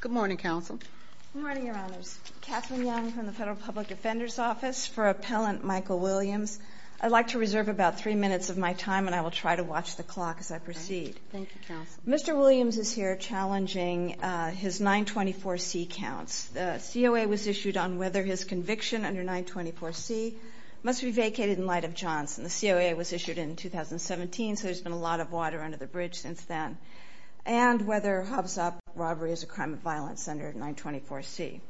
Good morning, Counsel. Good morning, Your Honors. Kathleen Young from the Federal Public Defender's Office for Appellant Michael Williams. I'd like to reserve about three minutes of my time and I will try to watch the clock as I proceed. Thank you, Counsel. Mr. Williams is here challenging his 924C counts. The COA was issued on whether his conviction under 924C must be vacated in light of Johnson. The COA was issued in 2017, so there's been a lot of water under the bridge since then. And whether Hobbs Act robbery is a crime of violence under 924C.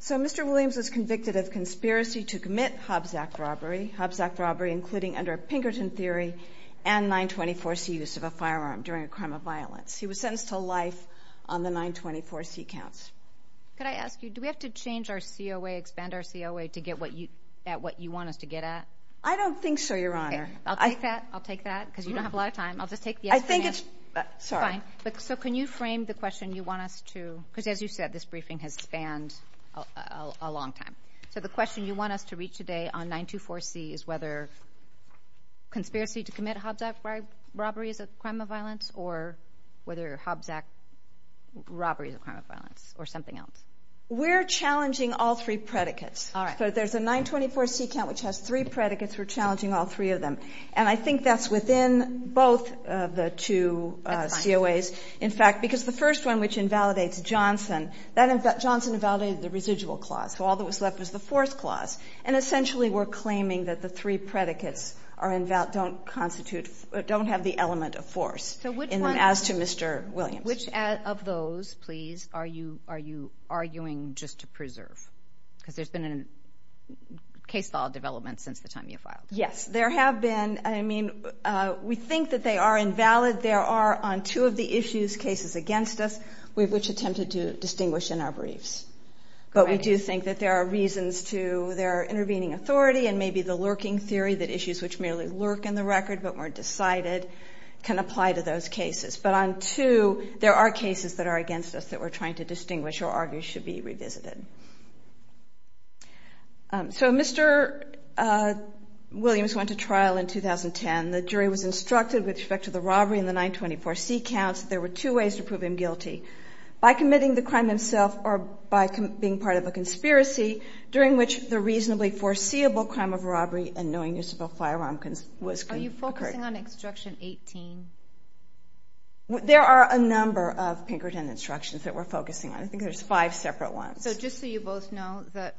So Mr. Williams was convicted of conspiracy to commit Hobbs Act robbery, Hobbs Act robbery including under Pinkerton theory and 924C use of a firearm during a crime of violence. He was sentenced to life on the 924C counts. Could I ask you, do we have to change our COA, expand our COA to get at what you want us to get at? I don't think so, Your Honor. I'll take that, I'll take that because you don't have a lot of time. I'll just take the yes from you. I think it's fine. So can you frame the question you want us to, because as you said, this briefing has spanned a long time. So the question you want us to reach today on 924C is whether conspiracy to commit Hobbs Act robbery is a crime of violence or whether Hobbs Act robbery is a crime of violence or something else. We're challenging all three predicates. All right. So there's a 924C count which has three predicates. We're challenging all three of them. And I think that's within both of the two COAs. In fact, because the first one which invalidates Johnson, that Johnson invalidated the residual clause. So all that was left was the fourth clause. And essentially we're claiming that the three predicates are invalid, don't constitute, don't have the element of force as to Mr. Williams. Which of those, please, are you arguing just to preserve? Because there's been a case law development since the time you filed. Yes, there have been. I mean, we think that they are invalid. There are on two of the issues, cases against us, which attempted to distinguish in our briefs. But we do think that there are reasons to their intervening authority and maybe the lurking theory that issues which merely lurk in the record but weren't decided can apply to those cases. But on two, there are cases that are against us that we're trying to distinguish or argue should be revisited. So Mr. Williams went to trial in 2010. The jury was instructed with respect to the robbery in the 924C counts, there were two ways to prove him guilty. By committing the crime himself or by being part of a conspiracy during which the reasonably foreseeable crime of robbery and knowing use of a firearm was committed. Are you focusing on Instruction 18? There are a number of Pinkerton instructions that we're focusing on. I think there's five separate ones. So just so you both know that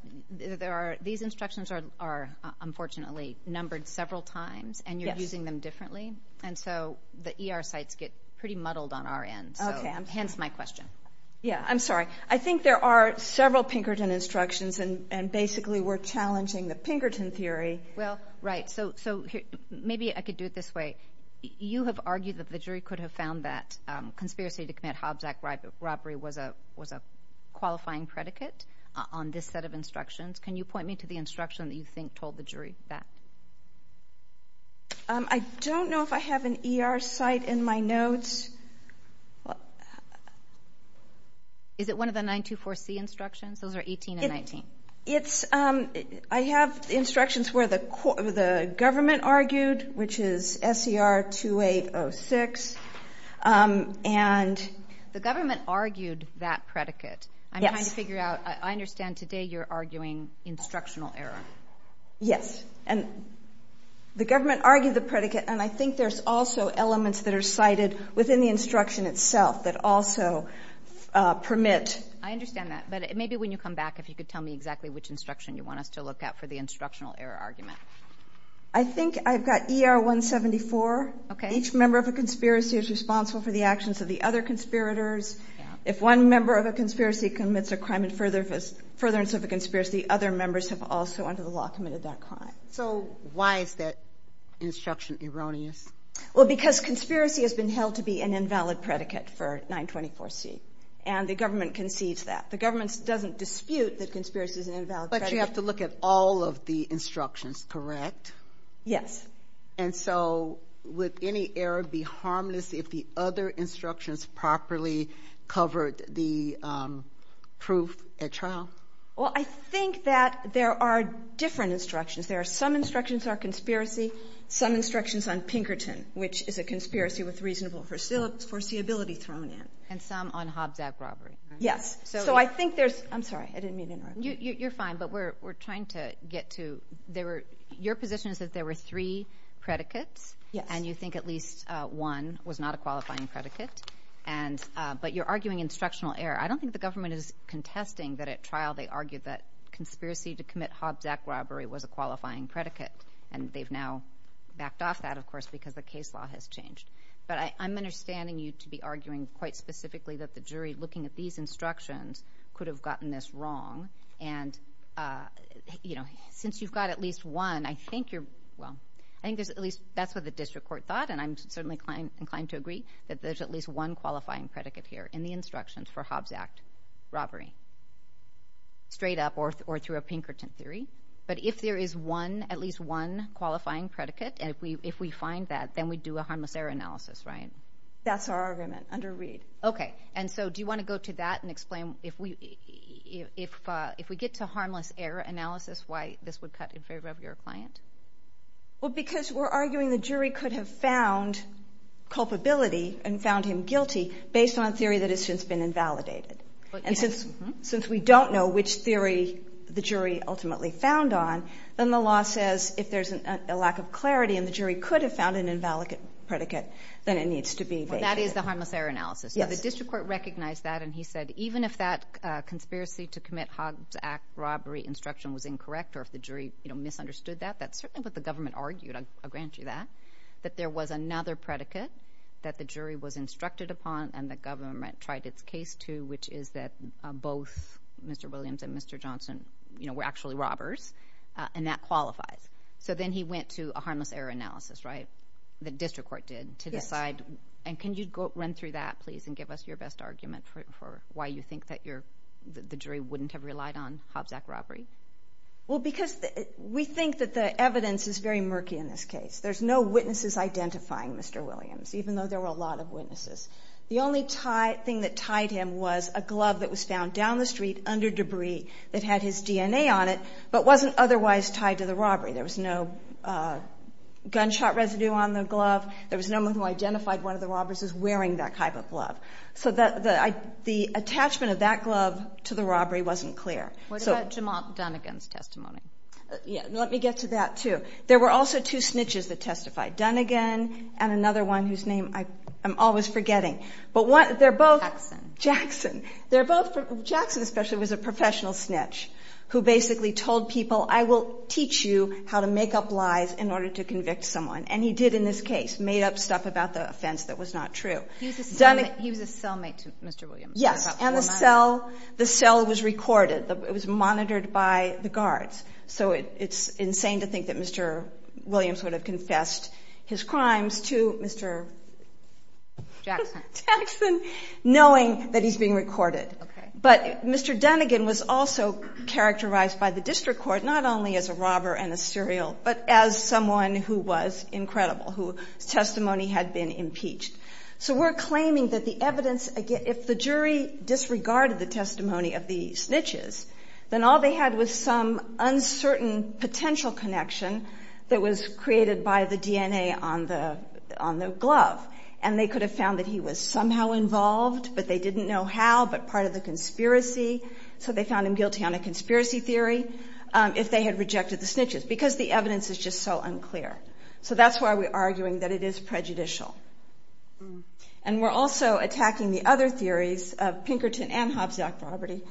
these instructions are unfortunately numbered several times and you're using them differently. And so the ER sites get pretty muddled on our end. So hence my question. Yeah, I'm sorry. I think there are several Pinkerton instructions and basically we're challenging the Pinkerton theory. Well, right. So maybe I could do it this way. You have argued that the jury could have found that conspiracy to commit Hobbs Act robbery was a qualifying predicate on this set of instructions. Can you point me to the instruction that you think told the jury that? I don't know if I have an ER site in my notes. Is it one of the 924C instructions? Those are 18 and 19. It's I have instructions where the the government argued, which is SCR 2806. And the government argued that predicate. I'm trying to figure out. I understand today you're arguing instructional error. Yes. And the government argued the predicate. And I think there's also elements that are cited within the instruction itself that also permit. I understand that. But maybe when you come back, if you could tell me exactly which instruction you want us to look at for the instructional error argument. I think I've got ER 174. Each member of a conspiracy is responsible for the actions of the other conspirators. If one member of a conspiracy commits a crime in furtherance of a conspiracy, the other members have also under the law committed that crime. So why is that instruction erroneous? Well, because conspiracy has been held to be an invalid predicate for 924C. And the government concedes that. The government doesn't dispute that conspiracy is an invalid predicate. But you have to look at all of the instructions, correct? Yes. And so would any error be harmless if the other instructions properly covered the proof at trial? Well, I think that there are different instructions. There are some instructions are conspiracy, some instructions on Pinkerton, which is a conspiracy with reasonable foreseeability thrown in. And some on Hobbs Act robbery. Yes. So I think there's... I'm sorry. I didn't mean to interrupt. You're fine. But we're trying to get to... Your position is that there were three predicates. And you think at least one was not a qualifying predicate. But you're arguing instructional error. I don't think the government is contesting that at trial they argued that conspiracy to commit Hobbs Act robbery was a qualifying predicate. And they've now backed off that, of course, because the case law has changed. But I'm understanding you to be arguing quite specifically that the jury, looking at these instructions, could have gotten this wrong. And, you know, since you've got at least one, I think you're... Well, I think there's at least... That's what the district court thought. And I'm certainly inclined to agree that there's at least one qualifying predicate here in the instructions for Hobbs Act robbery. Straight up or through a Pinkerton theory. But if there is one, at least one qualifying predicate, and if we find that, then we do a harmless error analysis, right? That's our argument under Reed. OK. And so do you want to go to that and explain if we get to harmless error analysis, why this would cut in favor of your client? Well, because we're arguing the jury could have found culpability and found him guilty based on a theory that has since been invalidated. And since we don't know which theory the jury ultimately found on, then the law says if there's a lack of clarity and the jury could have found an invalid predicate, then it needs to be validated. That is the harmless error analysis. Yes. The district court recognized that and he said even if that conspiracy to commit Hobbs Act robbery instruction was incorrect or if the jury misunderstood that, that's certainly what the government argued. I'll grant you that. That there was another predicate that the jury was instructed upon and the government tried its case to, which is that both Mr. Williams and Mr. Johnson were actually robbers and that qualifies. So then he went to a harmless error analysis, right? The district court did to decide. And can you go run through that please and give us your best argument for why you think that the jury wouldn't have relied on Hobbs Act robbery? Well, because we think that the evidence is very murky in this case. There's no witnesses identifying Mr. Williams, even though there were a lot of witnesses. The only thing that tied him was a glove that was found down the street under debris that had his DNA on it, but wasn't otherwise tied to the robbery. There was no gunshot residue on the glove. There was no one who identified one of the robbers as wearing that type of glove. So the attachment of that glove to the robbery wasn't clear. What about Jamal Dunnigan's testimony? Yeah. Let me get to that too. There were also two snitches that testified, Dunnigan and another one whose name I am always forgetting, but they're both Jackson. They're both, Jackson, especially was a professional snitch who basically told people, I will teach you how to make up lies in order to convict someone. And he did in this case, made up stuff about the offense that was not true. He was a cellmate to Mr. Williams. Yes. And the cell was recorded. It was monitored by the guards. So it's insane to think that Mr. Williams would have confessed his crimes to Mr. Jackson. Jackson, knowing that he's being recorded. But Mr. Dunnigan was also characterized by the district court, not only as a robber and a serial, but as someone who was incredible whose testimony had been impeached. So we're claiming that the evidence, again, if the jury disregarded the testimony of the snitches, then all they had was some uncertain potential connection that was created by the DNA on the, on the glove. And they could have found that he was somehow involved, but they didn't know how, but part of the conspiracy. So they found him guilty on a conspiracy theory if they had rejected the snitches because the evidence is just so unclear. So that's why we are arguing that it is prejudicial. And we're also attacking the other theories of Pinkerton and Hobbs Yacht Property.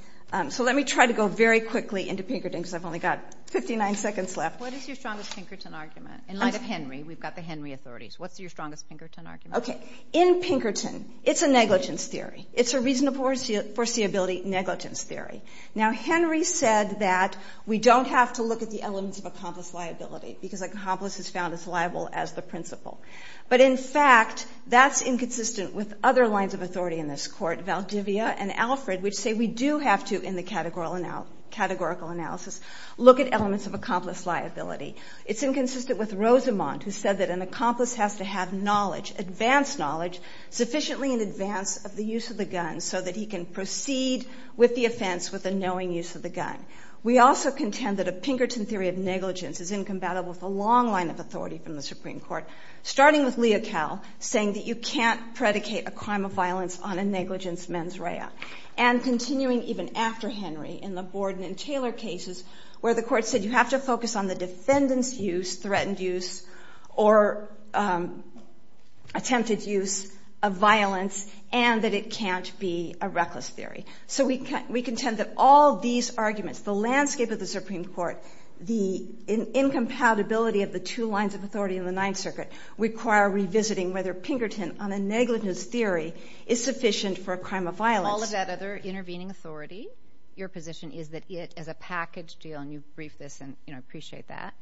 So let me try to go very quickly into Pinkerton because I've only got 59 seconds left. What is your strongest Pinkerton argument? In light of Henry, we've got the Henry authorities. What's your strongest Pinkerton argument? Okay. In Pinkerton, it's a negligence theory. It's a reasonable foreseeability negligence theory. Now, Henry said that we don't have to look at the elements of accomplice liability because accomplice is found as liable as the principal. But in fact, that's inconsistent with other lines of authority in this court, Valdivia and Alfred, which say we do have to in the categorical analysis, look at elements of accomplice liability. It's inconsistent with Rosamond, who said that an accomplice has to have knowledge, advanced knowledge sufficiently in advance of the use of the gun so that he can proceed with the offense with a knowing use of the gun. We also contend that a Pinkerton theory of negligence is incompatible with a long line of authority from the Supreme Court, starting with Leocal saying that you can't predicate a crime of violence on a negligence mens rea. And continuing even after Henry in the Borden and Taylor cases where the court said you have to focus on the defendant's use, threatened use or attempted use of violence and that it can't be a reckless theory. So we can, we contend that all these arguments, the landscape of the Supreme Court, the incompatibility of the two lines of authority in the Ninth Circuit require revisiting whether Pinkerton on a negligence theory is sufficient for a crime of violence. All of that other intervening authority, your position is that it as a package deal, and you've briefed this and you know, appreciate that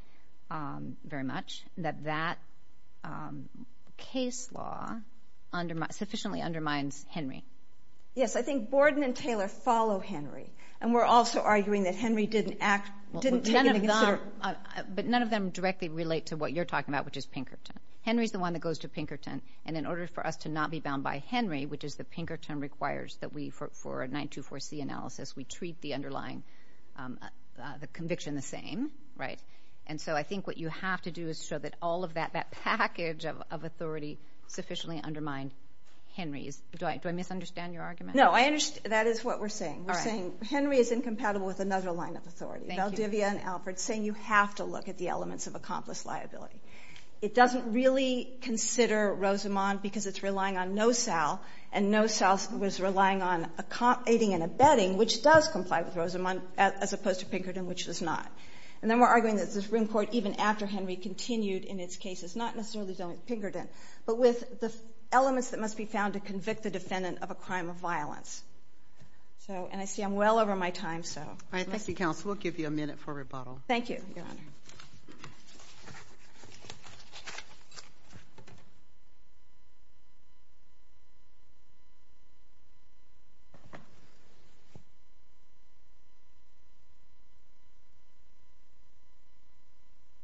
very much that that case law under sufficiently undermines Henry. Yes. I think Borden and Taylor follow Henry and we're also arguing that Henry didn't act, didn't consider, but none of them directly relate to what you're talking about, which is Pinkerton. Henry's the one that goes to Pinkerton and in order for us to not be bound by Henry, which is the Pinkerton requires that we for, for a nine to four C analysis, we treat the underlying the conviction the same. Right. And so I think what you have to do is show that all of that, that package of authority sufficiently undermined Henry's. Do I, do I misunderstand your argument? No, I understand. That is what we're saying. We're saying Henry is incompatible with another line of authority. Valdivia and Alfred saying you have to look at the elements of accomplice liability. It doesn't really consider Rosamond because it's relying on no Sal and no self was relying on a comp aiding and abetting, which does comply with Rosamond as opposed to Pinkerton, which does not. And then we're arguing that the Supreme Court, even after Henry continued in its cases, not necessarily Pinkerton, but with the elements that must be found to convict the defendant of a crime of violence. So, and I see I'm well over my time, so. Thank you, counsel. We'll give you a minute for rebuttal. Thank you, Your Honor.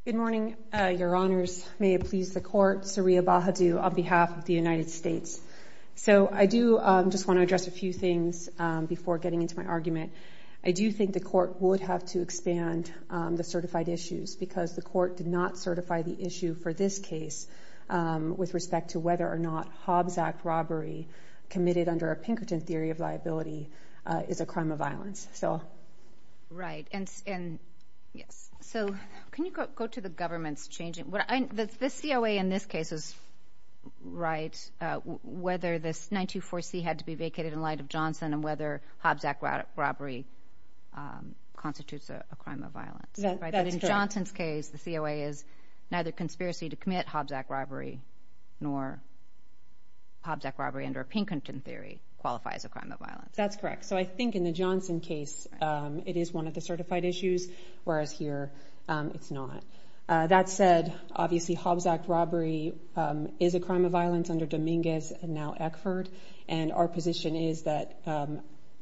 Good morning, Your Honors. May it please the court. Sariya Bahadur on behalf of the United States. So I do just want to address a few things before getting into my argument. I do think the court would have to expand the certified issues because the court did not certify the issue for this case with respect to whether or not Hobbs Act robbery committed under a Pinkerton theory of liability is a crime of violence. So. Right. And, and yes. So can you go to the government's changing what I, the COA in this case is right. Whether this 924C had to be vacated in light of Johnson and whether Hobbs Act robbery constitutes a crime of violence. But in Johnson's case, the COA is neither conspiracy to commit Hobbs Act robbery, nor Hobbs Act robbery under Pinkerton theory qualifies a crime of violence. That's correct. So I think in the Johnson case it is one of the certified issues, whereas here it's not. That said, obviously Hobbs Act robbery is a crime of violence under Dominguez and now Eckford, and our position is that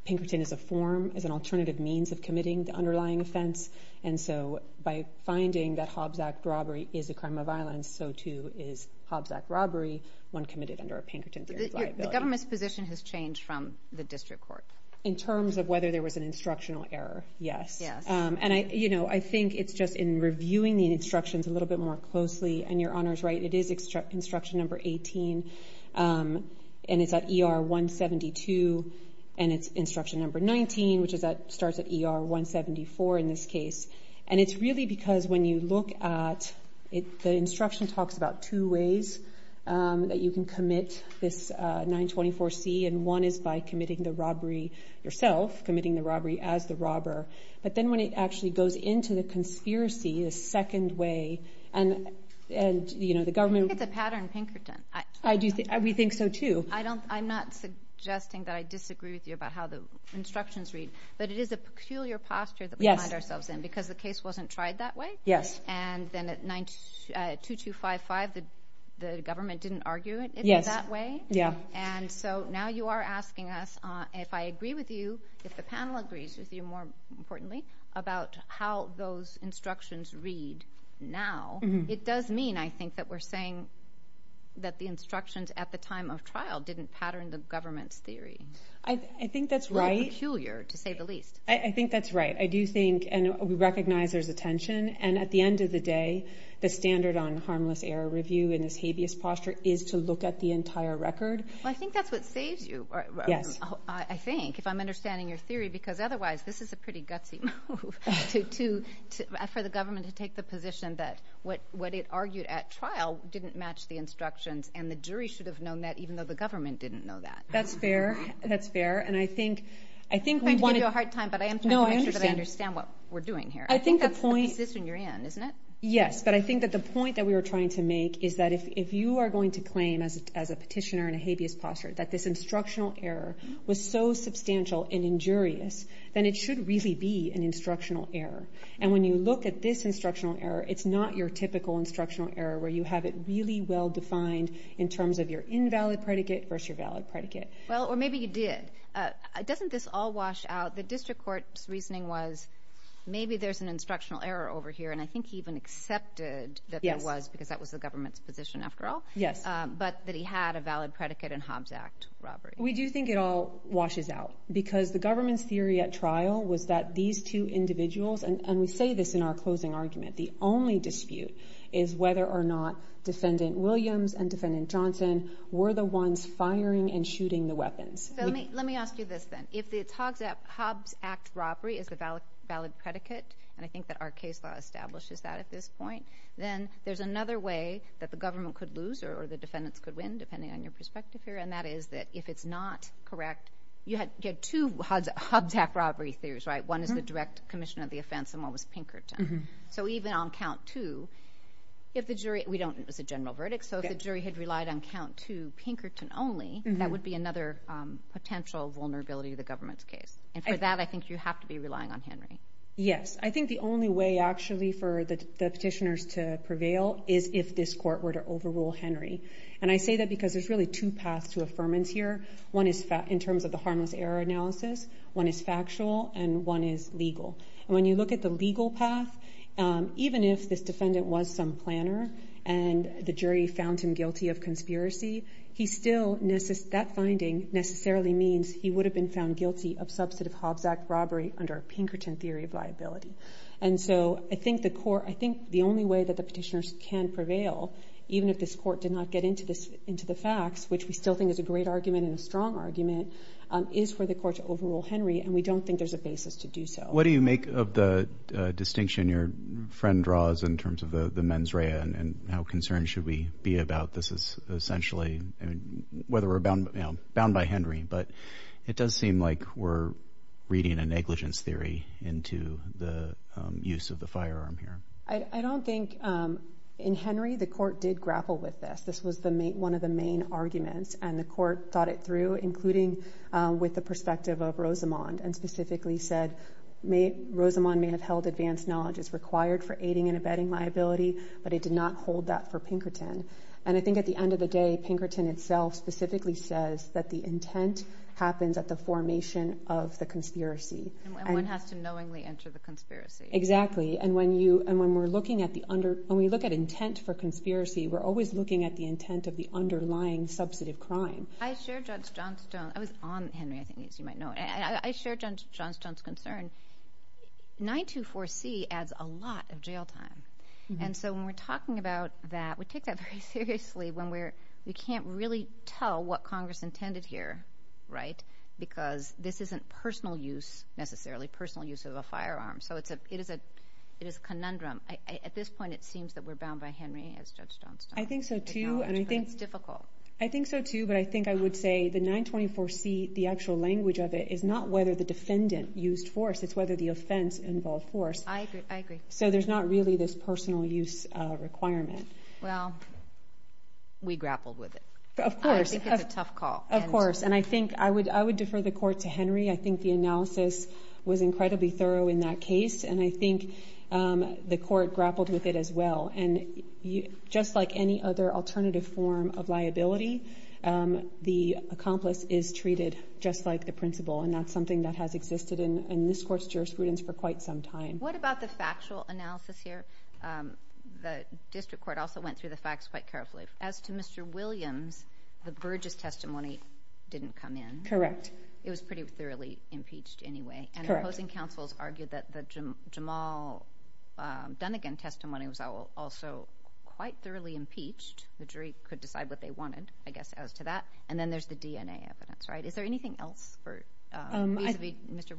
Pinkerton is a form, is an alternative means of committing the underlying offense. And so by finding that Hobbs Act robbery is a crime of violence, so too is Hobbs Act robbery when committed under a Pinkerton theory of liability. The government's position has changed from the district court. In terms of whether there was an instructional error. Yes. Yes. And I, you know, I think it's just in reviewing the instructions a little bit more closely and your honor's right. It is instruction number 18 and it's at ER 172 and it's instruction number 19, which starts at ER 174 in this case. And it's really because when you look at it, the instruction talks about two ways that you can commit this 924C and one is by committing the robbery yourself, committing the robbery as the robber. But then when it actually goes into the conspiracy, the second way, and, you know, the government... I think it's a pattern in Pinkerton. I do think, we think so too. I don't, I'm not suggesting that I disagree with you about how the instructions read, but it is a peculiar posture that we find ourselves in because the case wasn't tried that way. And then at 92255, the government didn't argue it that way. Yeah. And so now you are asking us if I agree with you, if the panel agrees with you more importantly, about how those instructions read now, it does mean, I think, that we're saying that the instructions at the time of trial didn't pattern the government's theory. I think that's right. Peculiar to say the least. I think that's right. I do think, and we recognize there's a tension, and at the end of the day, the standard on harmless error review in this habeas posture is to look at the entire record. Well, I think that's what saves you, I think, if I'm understanding your theory, because otherwise this is a pretty gutsy move for the government to take the position that what it argued at trial didn't match the instructions. And the jury should have known that even though the government didn't know that. That's fair. That's fair. I'm trying to give you a hard time, but I am trying to make sure that I understand what we're doing here. I think that's consistent in your end, isn't it? Yes. But I think that the point that we were trying to make is that if you are going to claim as a petitioner in a habeas posture that this instructional error was so substantial and injurious, then it should really be an instructional error. And when you look at this instructional error, it's not your typical instructional error where you have it really well defined in terms of your invalid predicate versus your valid predicate. Well, or maybe you did. Doesn't this all wash out? The district court's reasoning was maybe there's an instructional error over here. And I think he even accepted that there was, because that was the government's position after all. Yes. But that he had a valid predicate in Hobbs Act robbery. We do think it all washes out because the government's theory at trial was that these two individuals, and we say this in our closing argument, the only dispute is whether or not defendant Williams and defendant Johnson were the ones firing and shooting the weapons. So let me ask you this then, if it's Hobbs Act robbery is the valid predicate, and I think that our case law establishes that at this point, then there's another way that the government could lose or the defendants could win, depending on your perspective here. And that is that if it's not correct, you get two Hobbs Act robbery theories, right? One is the direct commission of the offense and one was Pinkerton. So even on count two, if the jury, we don't, it was a general verdict. So if the jury had relied on count two Pinkerton only, that would be another potential vulnerability to the government's case. And for that, I think you have to be relying on Henry. Yes. I think the only way actually for the petitioners to prevail is if this court were to overrule Henry. And I say that because there's really two paths to affirmance here. One is in terms of the harmless error analysis, one is factual and one is legal. And when you look at the legal path, even if this defendant was some planner and the jury found him guilty of conspiracy, he still, that finding necessarily means he would have been found guilty of substantive Hobbs Act robbery under Pinkerton theory of liability. And so I think the court, I think the only way that the petitioners can prevail, even if this court did not get into this, into the facts, which we still think is a great argument and a strong argument, is for the court to overrule Henry. And we don't think there's a basis to do so. What do you make of the distinction your friend draws in terms of the mens rea and how concerned should we be about this is essentially, I mean, whether we're bound by Henry, but it does seem like we're reading a negligence theory into the use of the firearm here. I don't think in Henry, the court did grapple with this. This was one of the main arguments and the court thought it through, including with the perspective of Rosamond and specifically said, Rosamond may have held advanced knowledge. It's required for aiding and abetting liability, but it did not hold that for Pinkerton. And I think at the end of the day, Pinkerton itself specifically says that the intent happens at the formation of the conspiracy. And one has to knowingly enter the conspiracy. Exactly. And when you, and when we're looking at the under, when we look at intent for conspiracy, we're always looking at the intent of the underlying substantive crime. I shared Judge Johnstone, I was on Henry, I think as you might know, and I shared Judge Johnstone's concern. 924C adds a lot of jail time. And so when we're talking about that, we take that very seriously when we're, we can't really tell what Congress intended here, right? Because this isn't personal use necessarily, personal use of a firearm. So it's a, it is a, it is a conundrum. I, at this point, it seems that we're bound by Henry as Judge Johnstone acknowledged. I think so too. And I think it's difficult. I think so too. But I think I would say the 924C, the actual language of it is not whether the defendant used force, it's whether the offense involved force. I agree. So there's not really this personal use requirement. Well, we grappled with it. Of course. I think it's a tough call. Of course. And I think I would, I would defer the court to Henry. I think the analysis was incredibly thorough in that case. And I think the court grappled with it as well. And just like any other alternative form of liability, the accomplice is treated just like the principal, and that's something that has existed in this court's jurisprudence for quite some time. What about the factual analysis here? The district court also went through the facts quite carefully. As to Mr. Williams, the Burgess testimony didn't come in. Correct. It was pretty thoroughly impeached anyway. And opposing counsels argued that the Jamal Dunnigan testimony was also quite thoroughly impeached. The jury could decide what they wanted, I guess, as to that. And then there's the DNA evidence, right? Is there anything else for Mr.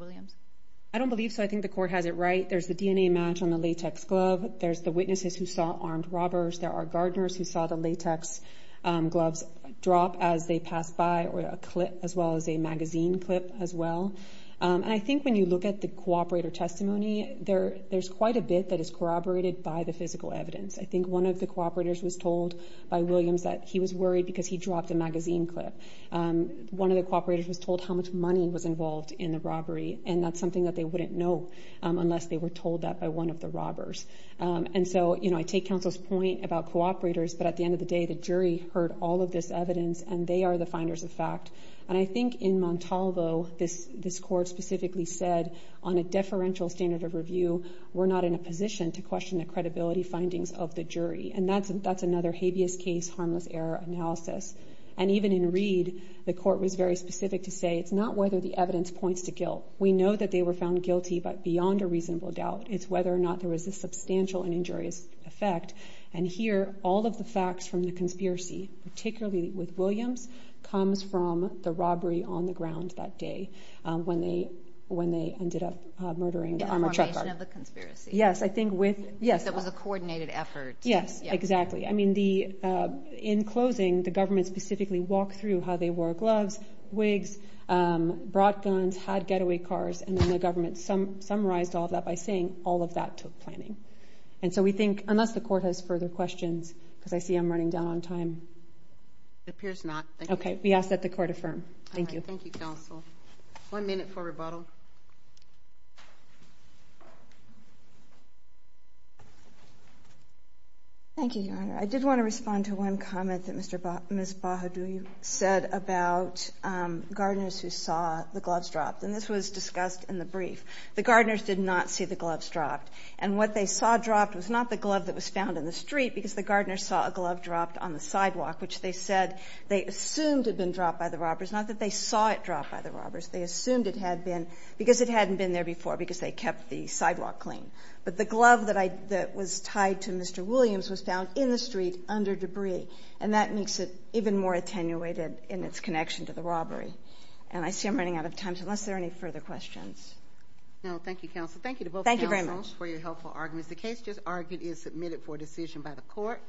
I don't believe so. I think the court has it right. There's the DNA match on the latex glove. There's the witnesses who saw armed robbers. There are gardeners who saw the latex gloves drop as they passed by, or a clip as well as a magazine clip as well. And I think when you look at the cooperator testimony, there's quite a bit that is corroborated by the physical evidence. I think one of the cooperators was told by Williams that he was worried because he dropped a magazine clip. One of the cooperators was told how much money was involved in the robbery. And that's something that they wouldn't know unless they were told that by one of the robbers. And so, you know, I take counsel's point about cooperators, but at the end of the day, the jury heard all of this evidence and they are the finders of fact. And I think in Montalvo, this court specifically said on a deferential standard of review, we're not in a position to question the credibility findings of the jury. And that's another habeas case, harmless error analysis. And even in Reed, the court was very specific to say, it's not whether the evidence points to guilt. We know that they were found guilty, but beyond a reasonable doubt, it's whether or not there was a substantial and injurious effect. And here, all of the facts from the conspiracy, particularly with Williams, comes from the robbery on the ground that day when they ended up murdering the armored truck driver. In the formation of the conspiracy. Yes, I think with... Yes, it was a coordinated effort. Yes, exactly. I mean, in closing, the government specifically walked through how they wore gloves, wigs, brought guns, had getaway cars, and then the government summarized all of that by saying all of that took planning. And so we think, unless the court has further questions, because I see I'm running down on time. It appears not. Okay. We ask that the court affirm. Thank you. Thank you, counsel. One minute for rebuttal. Thank you, Your Honor. I did want to respond to one comment that Ms. Bahadur said about gardeners who saw the gloves dropped, and this was discussed in the brief. The gardeners did not see the gloves dropped, and what they saw dropped was not the glove that was found in the street, because the gardeners saw a glove dropped on the sidewalk, which they said they assumed had been dropped by the robbers, not that they saw it dropped by the robbers. They assumed it had been because it hadn't been there before because they kept the sidewalk clean. But the glove that was tied to Mr. Williams was found in the street under debris, and that makes it even more attenuated in its connection to the robbery. And I see I'm running out of time, so unless there are any further questions. No, thank you, counsel. Thank you to both counsels for your helpful arguments. The case just argued is submitted for decision by the court.